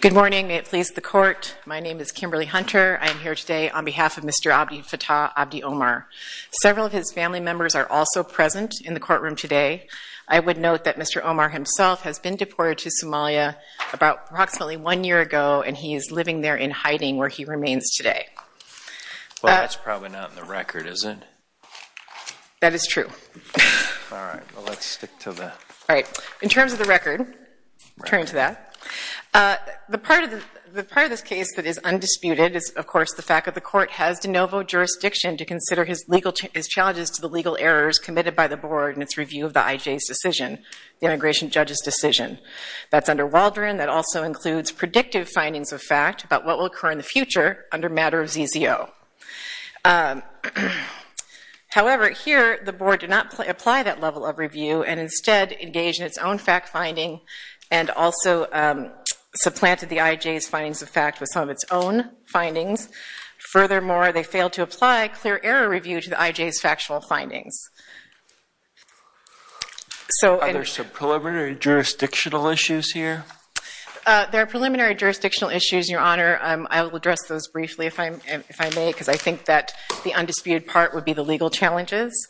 Good morning. May it please the court, my name is Kimberly Hunter. I am here today on behalf of Mr. Abdifatah Abdi Omar. Several of his family members are also present in the courtroom today. I would note that Mr. Omar himself has been deported to Somalia about approximately one year ago and he is living there in hiding where he remains today. Well, that's probably not in the record, is it? That is true. All right. Well, let's stick to that. All right. In terms of the record, returning to that, the part of this case that is undisputed is, of course, the fact that the court has de novo jurisdiction to consider his legal challenges to the legal errors committed by the board in its review of the IJ's decision, the immigration judge's decision. That's under Waldron. That also includes predictive findings of fact about what will occur in the future under matter of ZZO. However, here the board did not apply that level of review and instead engaged in its own fact finding and also supplanted the IJ's findings of fact with some of its own findings. Furthermore, they failed to apply clear error review to the IJ's factual findings. Are there some preliminary jurisdictional issues here? There are preliminary jurisdictional issues, Your Honor. I will address those briefly if I may because I think that the undisputed part would be the legal challenges.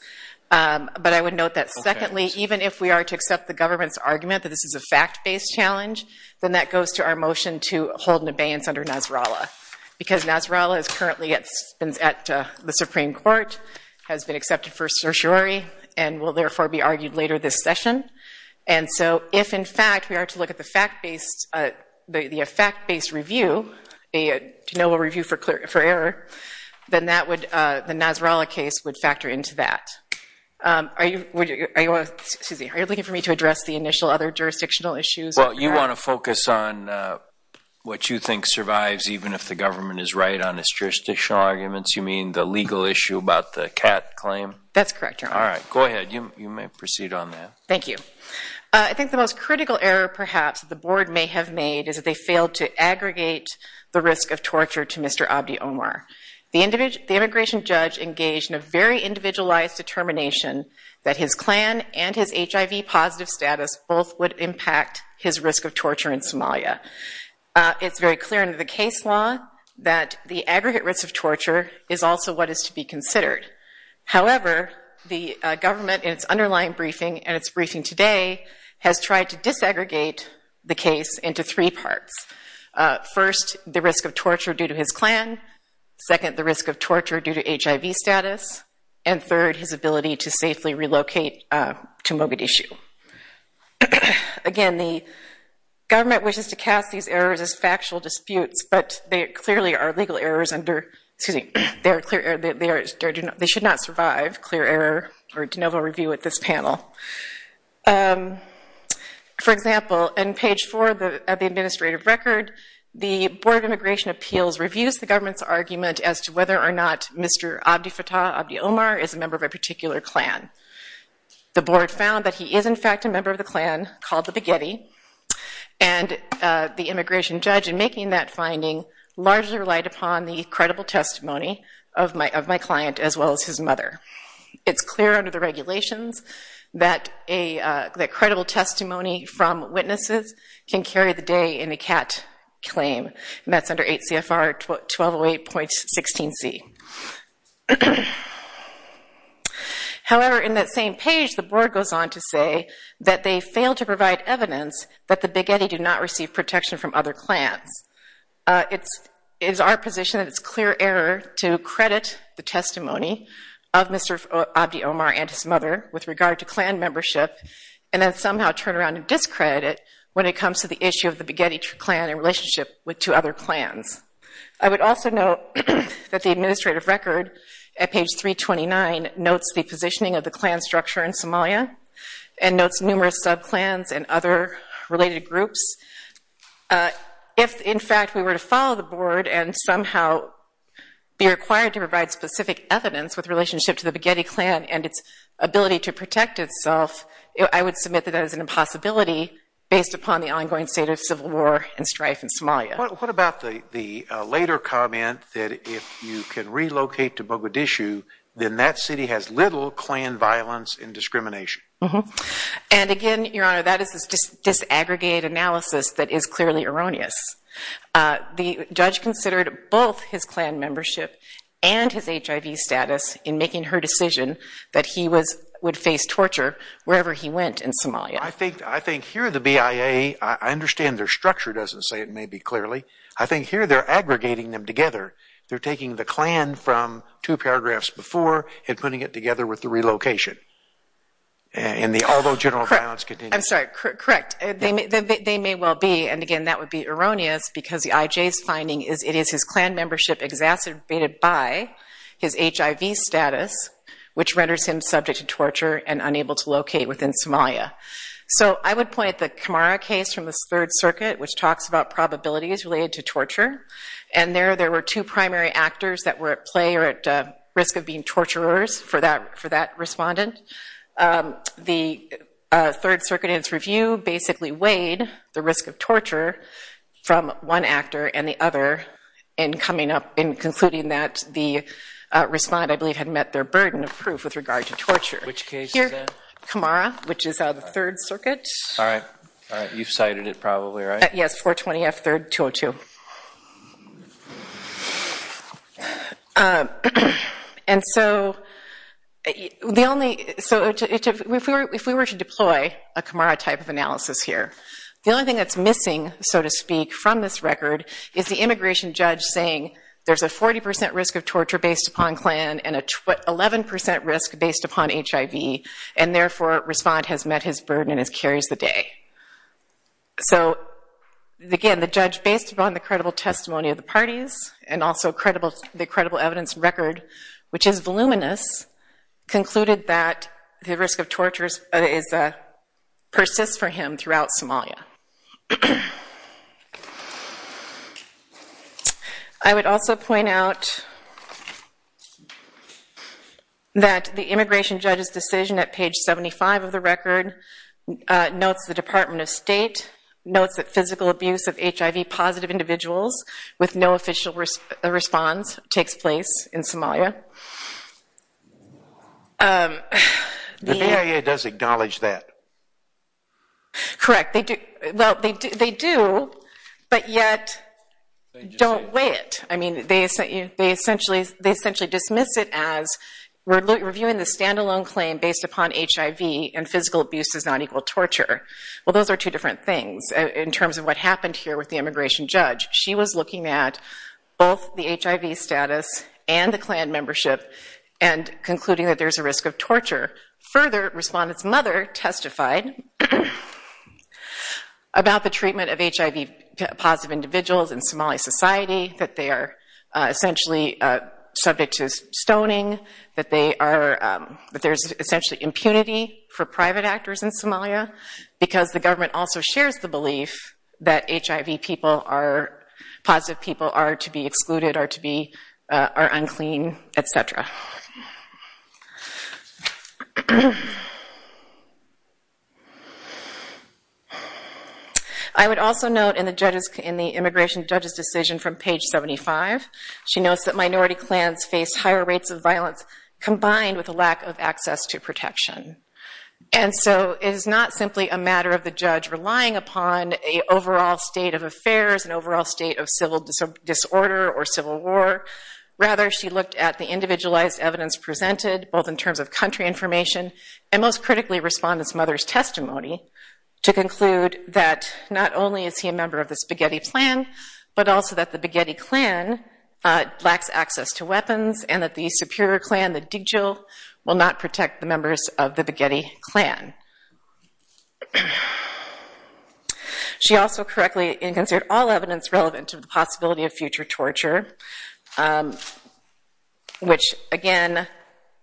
But I would note that, secondly, even if we are to accept the government's argument that this is a fact-based challenge, then that goes to our motion to hold an abeyance under Nasrallah because Nasrallah is currently at the Supreme Court, has been accepted for certiorari, and will therefore be argued later this session. And so if, in fact, we are to look at the fact-based review, a review for error, then the Nasrallah case would factor into that. Are you looking for me to address the initial other jurisdictional issues? Well, you want to focus on what you think survives even if the government is right on its jurisdictional arguments. You mean the legal issue about the CAT claim? That's correct, Your Honor. All right. Go ahead. You may proceed on that. Thank you. I think the most critical error, perhaps, the Board may have made is that they failed to aggregate the risk of torture to Mr. Abdi Omar. The immigration judge engaged in a very individualized determination that his clan and his HIV-positive status both would impact his risk of torture in Somalia. It's very clear in the case law that the aggregate risk of torture is also what is to be considered. However, the government in its underlying briefing, and its briefing today, has tried to disaggregate the case into three parts. First, the risk of torture due to his clan. Second, the risk of torture due to HIV status. And third, his ability to safely relocate to Mogadishu. Again, the government wishes to cast these errors as factual disputes, but they clearly are legal errors under, excuse me, they should not survive clear error or de novo review at this panel. For example, in page four of the administrative record, the Board of Immigration Appeals reviews the government's argument as to whether or not Mr. Abdi Fattah, Abdi Omar, is a member of a particular clan. The Board found that he is, in fact, a member of the clan called the Baguetti, and the immigration judge in making that finding largely relied upon the credible testimony of my client, as well as his mother. It's clear under the regulations that credible testimony from witnesses can carry the day in a CAT claim, and that's under 8 CFR 1208.16c. However, in that same page, the Board goes on to say that they failed to provide evidence that the Baguetti did not receive protection from other clans. It is our position that it's clear error to credit the testimony of Mr. Abdi Omar and his mother with regard to clan membership, and then somehow turn around and discredit when it comes to the issue of the Baguetti clan in relationship with two other clans. I would also note that the administrative record at page 329 notes the positioning of the clan structure in Somalia and notes numerous sub-clans and other related groups. If, in fact, we were to follow the Board and somehow be required to provide specific evidence with relationship to the Baguetti clan and its ability to protect itself, I would submit that that is an impossibility based upon the ongoing state of civil war and strife in Somalia. What about the later comment that if you can relocate to Bogadishu, then that city has little clan violence and discrimination? And again, Your Honor, that is this disaggregated analysis that is clearly erroneous. The judge considered both his clan membership and his HIV status in making her decision that he would face torture wherever he went in Somalia. I think here the BIA, I understand their structure doesn't say it maybe clearly. I think here they're aggregating them together. They're taking the clan from two paragraphs before and putting it together with the relocation. I'm sorry, correct. They may well be, and again, that would be erroneous because the IJ's finding is it is his clan membership exacerbated by his HIV status, which renders him subject to torture and unable to locate within Somalia. So I would point at the Kamara case from the Third Circuit, which talks about probabilities related to torture. And there there were two primary actors that were at play or at risk of being torturers for that respondent. The Third Circuit in its review basically weighed the risk of torture from one actor and the other in concluding that the respondent, I believe, had met their burden of proof with regard to torture. Which case is that? Kamara, which is the Third Circuit. All right. All right. You've cited it probably, right? Yes, 420F 3rd 202. And so if we were to deploy a Kamara type of analysis here, the only thing that's missing, so to speak, from this record is the immigration judge saying there's a 40% risk of torture based upon clan and an 11% risk based upon HIV. And therefore, respondent has met his burden and carries the day. So again, the judge, based upon the credible testimony of the parties and also the credible evidence record, which is voluminous, concluded that the risk of torture persists for him throughout Somalia. I would also point out that the immigration judge's decision at page 75 of the record notes the Department of State, notes that physical abuse of HIV positive individuals with no official response takes place in Somalia. The BIA does acknowledge that. Correct. They do. Well, they do, but yet don't weigh it. I mean, they essentially dismiss it as we're reviewing the standalone claim based upon HIV and physical abuse does not equal torture. Well, those are two different things in terms of what happened here with the immigration judge. She was looking at both the HIV status and the clan membership and concluding that there's a risk of torture. Further, respondent's mother testified about the treatment of HIV positive individuals in Somali society, that they are essentially subject to stoning, that there's essentially impunity for private actors in Somalia because the government also shares the belief that HIV positive people are to be excluded, are unclean, et cetera. I would also note in the immigration judge's decision from page 75, she notes that minority clans face higher rates of violence combined with a lack of access to protection. It is not simply a matter of the judge relying upon an overall state of affairs, an overall state of civil disorder or civil war. Rather, she looked at the individualized evidence presented both in terms of country information and most critically respondent's mother's testimony to conclude that not only is he a member of the Spaghetti clan, but also that the Spaghetti clan lacks access to weapons and that the superior clan, the Digil, will not protect the members of the Spaghetti clan. She also correctly considered all evidence relevant to the possibility of future torture, which again,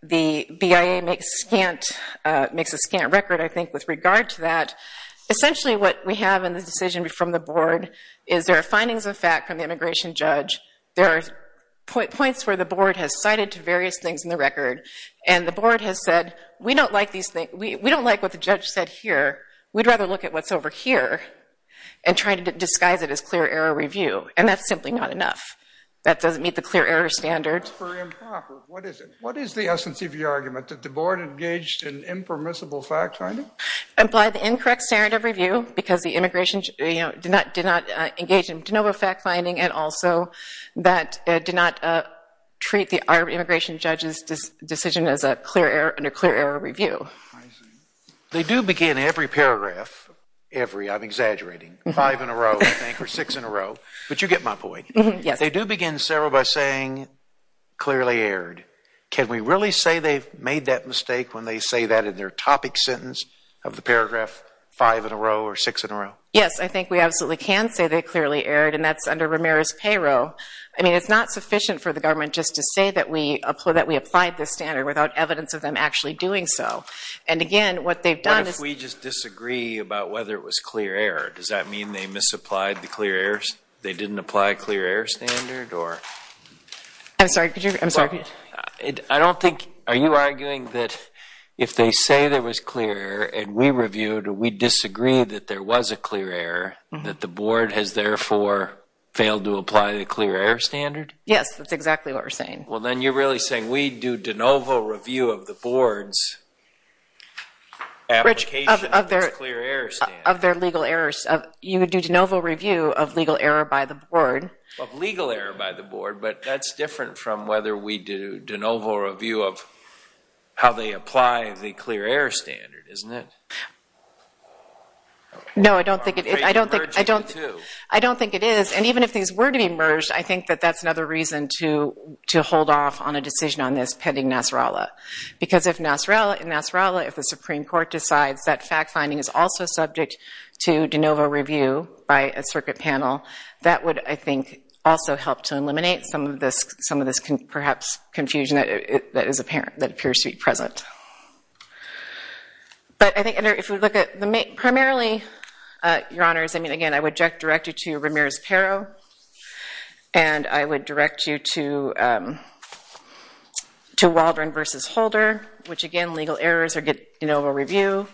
the BIA makes a scant record, I think, with regard to that. Essentially what we have in the decision from the board is there are findings of fact from the immigration judge. There are points where the board has cited various things in the record, and the board has said, we don't like these things. We don't like what the judge said here. We'd rather look at what's over here and try to disguise it as clear error review. And that's simply not enough. That doesn't meet the clear error standard. That's very improper. What is it? What is the essence of your argument? That the board engaged in impermissible fact finding? Implied the incorrect standard of review because the immigration judge did not engage in de novo fact finding, and also that did not treat our immigration judge's decision as under clear error review. I see. They do begin every paragraph, every, I'm exaggerating, five in a row, I think, or six in a row. But you get my point. Yes. They do begin several by saying clearly errored. Can we really say they've made that mistake when they say that in their topic sentence of the paragraph, five in a row or six in a row? Yes. I think we absolutely can say they clearly erred, and that's under Ramirez's payroll. I mean, it's not sufficient for the government just to say that we applied this standard without evidence of them actually doing so. And, again, what they've done is – What if we just disagree about whether it was clear error? Does that mean they misapplied the clear errors? They didn't apply a clear error standard or – I'm sorry. Could you – I'm sorry. I don't think – are you arguing that if they say there was clear error and we reviewed it, we disagree that there was a clear error, that the board has, therefore, failed to apply the clear error standard? Yes. That's exactly what we're saying. Well, then you're really saying we do de novo review of the board's applications of this clear error standard. Of their legal errors. You would do de novo review of legal error by the board. Of legal error by the board. But that's different from whether we do de novo review of how they apply the clear error standard, isn't it? No, I don't think it is. I don't think – I don't think it is. And even if these were to be merged, I think that that's another reason to hold off on a decision on this pending NASSARALA. Because if NASSARALA, if the Supreme Court decides that fact-finding is also subject to de novo review by a circuit panel, that would, I think, also help to eliminate some of this, perhaps, confusion that is apparent, that appears to be present. But I think if we look at primarily, Your Honors, I mean, again, I would direct you to Ramirez-Pero. And I would direct you to Waldron versus Holder. Which, again, legal errors are de novo review.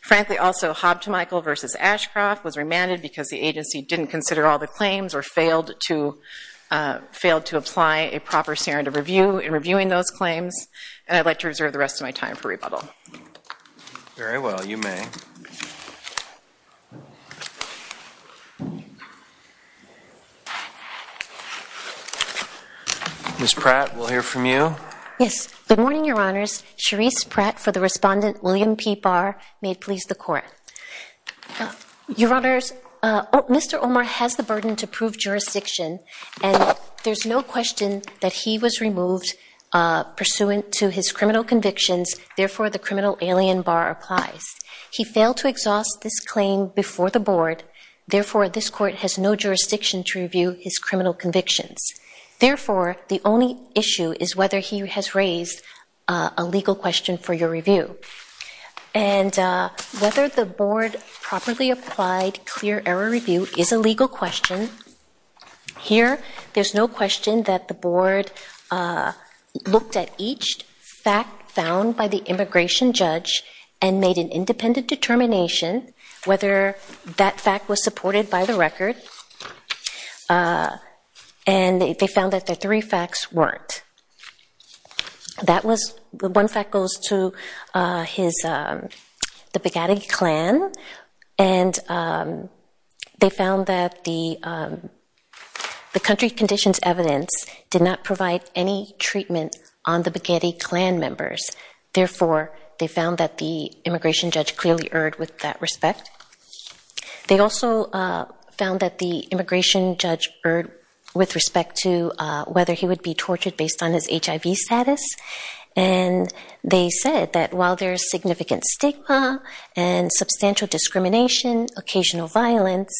Frankly, also, Hobbs to Michael versus Ashcroft was remanded because the agency didn't consider all the claims or failed to – failed to apply a proper standard of review in reviewing those claims. And I'd like to reserve the rest of my time for rebuttal. Very well. You may. Ms. Pratt, we'll hear from you. Yes. Good morning, Your Honors. Charisse Pratt for the respondent, William P. Barr. May it please the Court. Your Honors, Mr. Omar has the burden to prove jurisdiction. And there's no question that he was removed pursuant to his criminal convictions. Therefore, the criminal alien, Barr, applies. He failed to exhaust this claim before the Board. Therefore, this Court has no jurisdiction to review his criminal convictions. Therefore, the only issue is whether he has raised a legal question for your review. And whether the Board properly applied clear error review is a legal question. Here, there's no question that the Board looked at each fact found by the immigration judge and made an independent determination whether that fact was supported by the record. And they found that the three facts weren't. One fact goes to the Begadi clan. And they found that the country conditions evidence did not provide any treatment on the Begadi clan members. Therefore, they found that the immigration judge clearly erred with that respect. They also found that the immigration judge erred with respect to whether he would be tortured based on his HIV status. And they said that while there's significant stigma and substantial discrimination, occasional violence,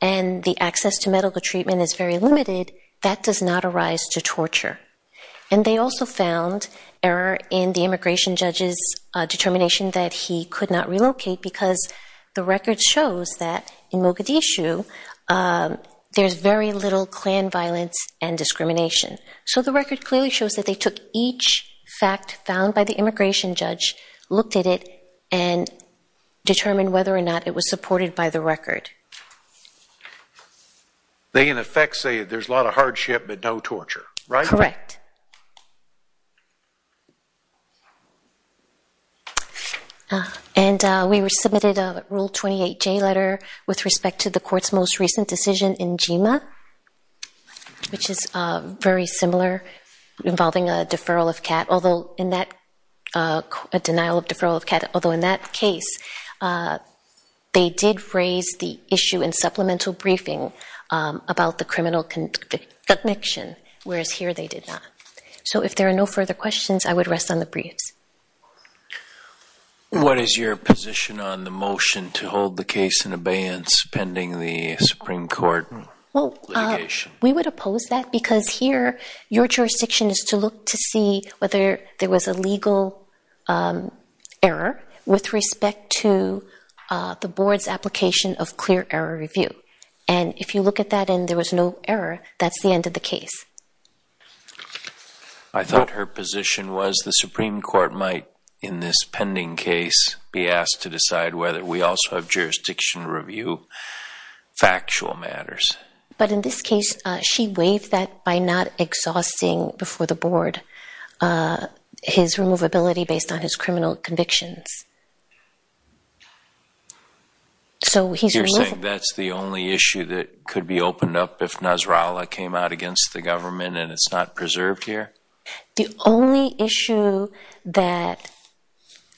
and the access to medical treatment is very limited, that does not arise to torture. And they also found error in the immigration judge's determination that he could not relocate because the record shows that in Mogadishu there's very little clan violence and discrimination. So the record clearly shows that they took each fact found by the immigration judge, looked at it, and determined whether or not it was supported by the record. They, in effect, say there's a lot of hardship but no torture, right? Correct. And we submitted a Rule 28J letter with respect to the court's most recent decision in GEMA, which is very similar, involving a denial of deferral of CAT, although in that case they did raise the issue in supplemental briefing about the criminal connection, whereas here they did not. So if there are no further questions, I would rest on the briefs. What is your position on the motion to hold the case in abeyance pending the Supreme Court litigation? We would oppose that because here your jurisdiction is to look to see whether there was a legal error with respect to the board's application of clear error review. And if you look at that and there was no error, that's the end of the case. I thought her position was the Supreme Court might, in this pending case, be asked to decide whether we also have jurisdiction to review factual matters. But in this case she waived that by not exhausting before the board his removability based on his criminal convictions. You're saying that's the only issue that could be opened up if Nasrallah came out against the government and it's not preserved here? The only issue that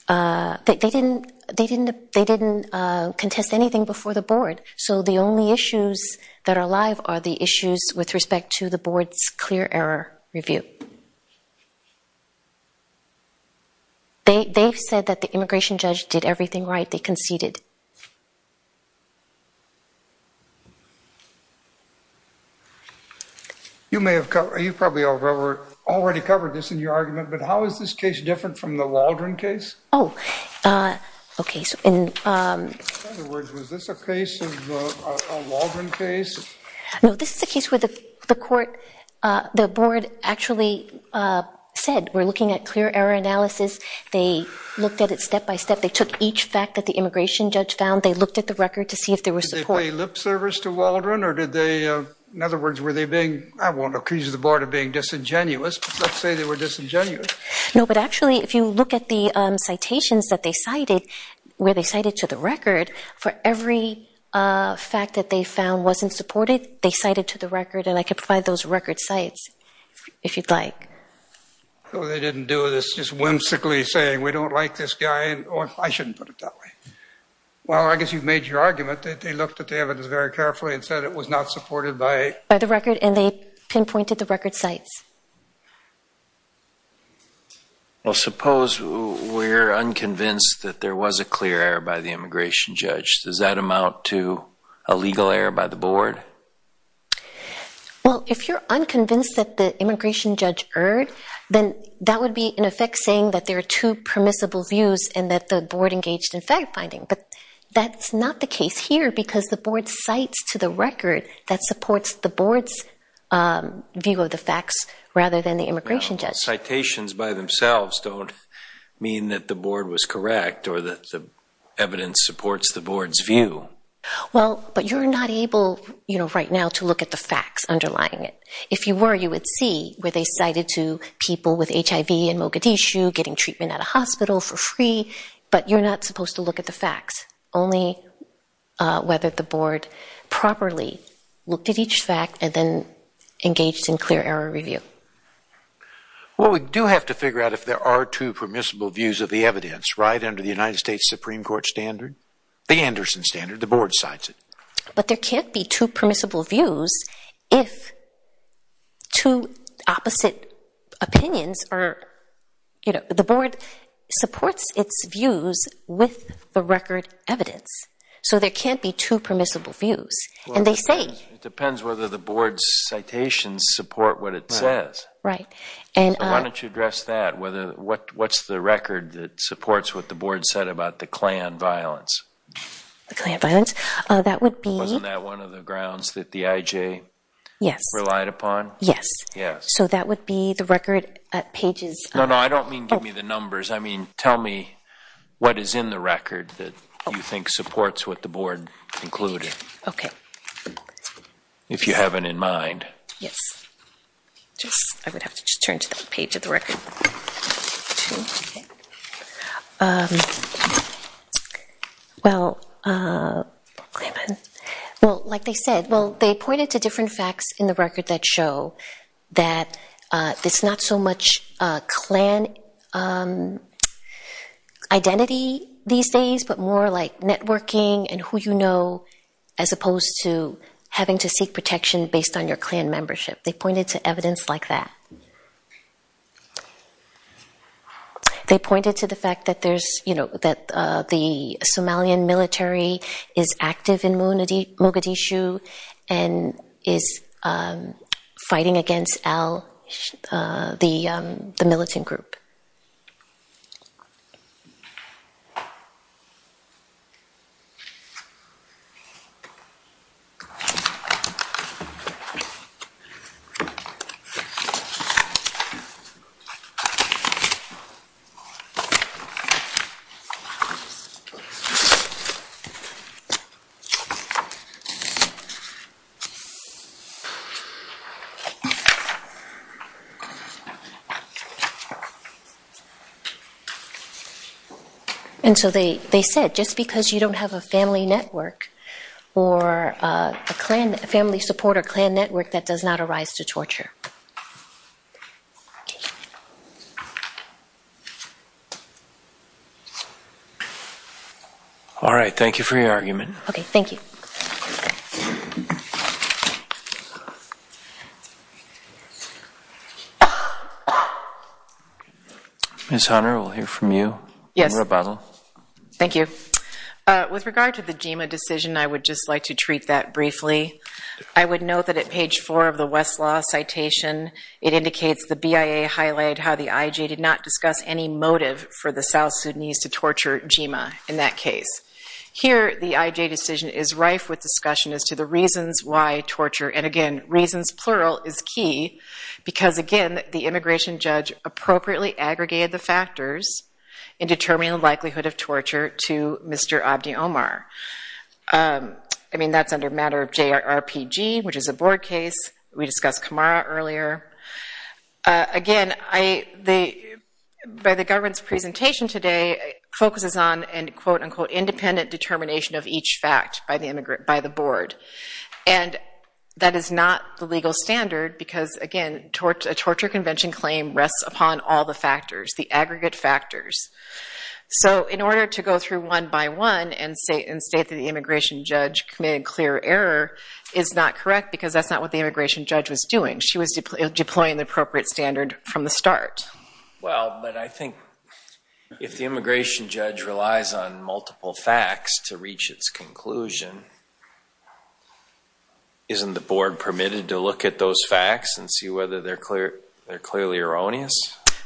they didn't contest anything before the board. So the only issues that are alive are the issues with respect to the board's clear error review. They've said that the immigration judge did everything right. They conceded. You probably already covered this in your argument, but how is this case different from the Waldron case? Oh, okay. In other words, was this a case of a Waldron case? No, this is a case where the board actually said we're looking at clear error analysis. They looked at it step by step. They took each fact that the immigration judge found. They looked at the record to see if there was support. Did they pay lip service to Waldron or did they, in other words, were they being, I won't accuse the board of being disingenuous, but let's say they were disingenuous. No, but actually if you look at the citations that they cited, where they cited to the record, for every fact that they found wasn't supported, they cited to the record, and I could provide those record sites if you'd like. So they didn't do this just whimsically saying we don't like this guy. I shouldn't put it that way. Well, I guess you've made your argument that they looked at the evidence very carefully and said it was not supported by the record and they pinpointed the record sites. Well, suppose we're unconvinced that there was a clear error by the immigration judge. Does that amount to a legal error by the board? Well, if you're unconvinced that the immigration judge erred, then that would be in effect saying that there are two permissible views and that the board engaged in fact-finding. But that's not the case here because the board cites to the record that supports the board's view of the facts rather than the immigration judge. Well, citations by themselves don't mean that the board was correct or that the evidence supports the board's view. Well, but you're not able right now to look at the facts underlying it. If you were, you would see where they cited to people with HIV and Mogadishu, getting treatment at a hospital for free, but you're not supposed to look at the facts, only whether the board properly looked at each fact and then engaged in clear error review. Well, we do have to figure out if there are two permissible views of the evidence, right under the United States Supreme Court standard, the Anderson standard, the board cites it. But there can't be two permissible views if two opposite opinions are, you know, the board supports its views with the record evidence. So there can't be two permissible views. And they say- Well, it depends whether the board's citations support what it says. Right. Why don't you address that? What's the record that supports what the board said about the Klan violence? The Klan violence? That would be- Wasn't that one of the grounds that the IJ relied upon? Yes. Yes. So that would be the record at pages- No, no, I don't mean give me the numbers. I mean tell me what is in the record that you think supports what the board included. Okay. If you have it in mind. Yes. I would have to just turn to the page of the record. Well, like they said, well, they pointed to different facts in the record that show that there's not so much Klan identity these days, but more like networking and who you know, as opposed to having to seek protection based on your Klan membership. They pointed to evidence like that. They pointed to the fact that the Somalian military is active in Mogadishu and is fighting against Al, the militant group. And so they said just because you don't have a family network or a Klan family support or Klan network, that does not arise to torture. All right. Thank you for your argument. Okay. Thank you. Ms. Hunter, we'll hear from you. Yes. Thank you. With regard to the GEMA decision, I would just like to treat that briefly. I would note that at page four of the Westlaw citation, it indicates the BIA highlighted how the IJ did not discuss any motive for the South Sudanese to torture GEMA in that case. Here, the IJ decision is rife with discussion as to the reasons why torture, and again, reasons plural is key because, again, the immigration judge appropriately aggregated the factors in determining the likelihood of torture to Mr. Abdi Omar. I mean, that's under matter of JRPG, which is a board case. We discussed Camara earlier. Again, by the government's presentation today, it focuses on an, quote, unquote, independent determination of each fact by the board, and that is not the legal standard because, again, a torture convention claim rests upon all the factors, the aggregate factors. So in order to go through one by one and state that the immigration judge committed clear error is not correct because that's not what the immigration judge was doing. She was deploying the appropriate standard from the start. Well, but I think if the immigration judge relies on multiple facts to reach its conclusion, isn't the board permitted to look at those facts and see whether they're clearly erroneous?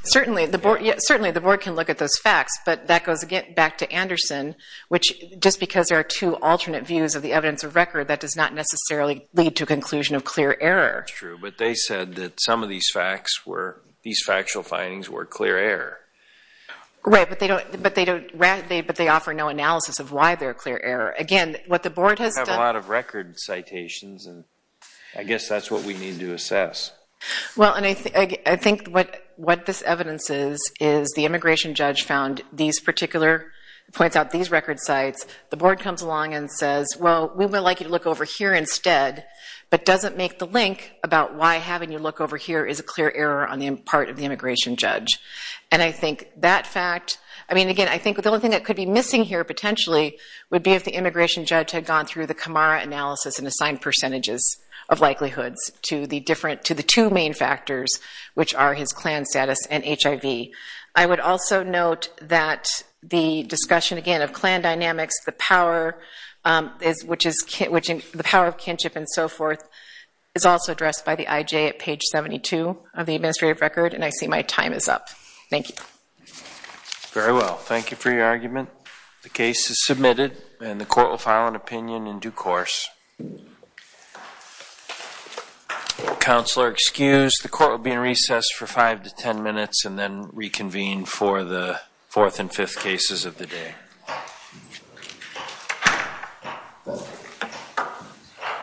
Certainly, the board can look at those facts, but that goes back to Anderson, which just because there are two alternate views of the evidence of record, that does not necessarily lead to a conclusion of clear error. That's true, but they said that some of these facts were, these factual findings were clear error. Right, but they don't, but they offer no analysis of why they're clear error. Again, what the board has done. We have a lot of record citations, and I guess that's what we need to assess. Well, and I think what this evidence is, is the immigration judge found these particular, points out these record sites. The board comes along and says, well, we would like you to look over here instead, but doesn't make the link about why having you look over here is a clear error on the part of the immigration judge. And I think that fact, I mean, again, I think the only thing that could be missing here, potentially, would be if the immigration judge had gone through the Camara analysis and assigned percentages of likelihoods to the two main factors, which are his Klan status and HIV. I would also note that the discussion, again, of Klan dynamics, the power of kinship and so forth, is also addressed by the IJ at page 72 of the administrative record, and I see my time is up. Thank you. Very well. Thank you for your argument. The case is submitted, and the court will file an opinion in due course. Counselor, excused. The court will be in recess for five to ten minutes and then reconvene for the fourth and fifth cases of the day.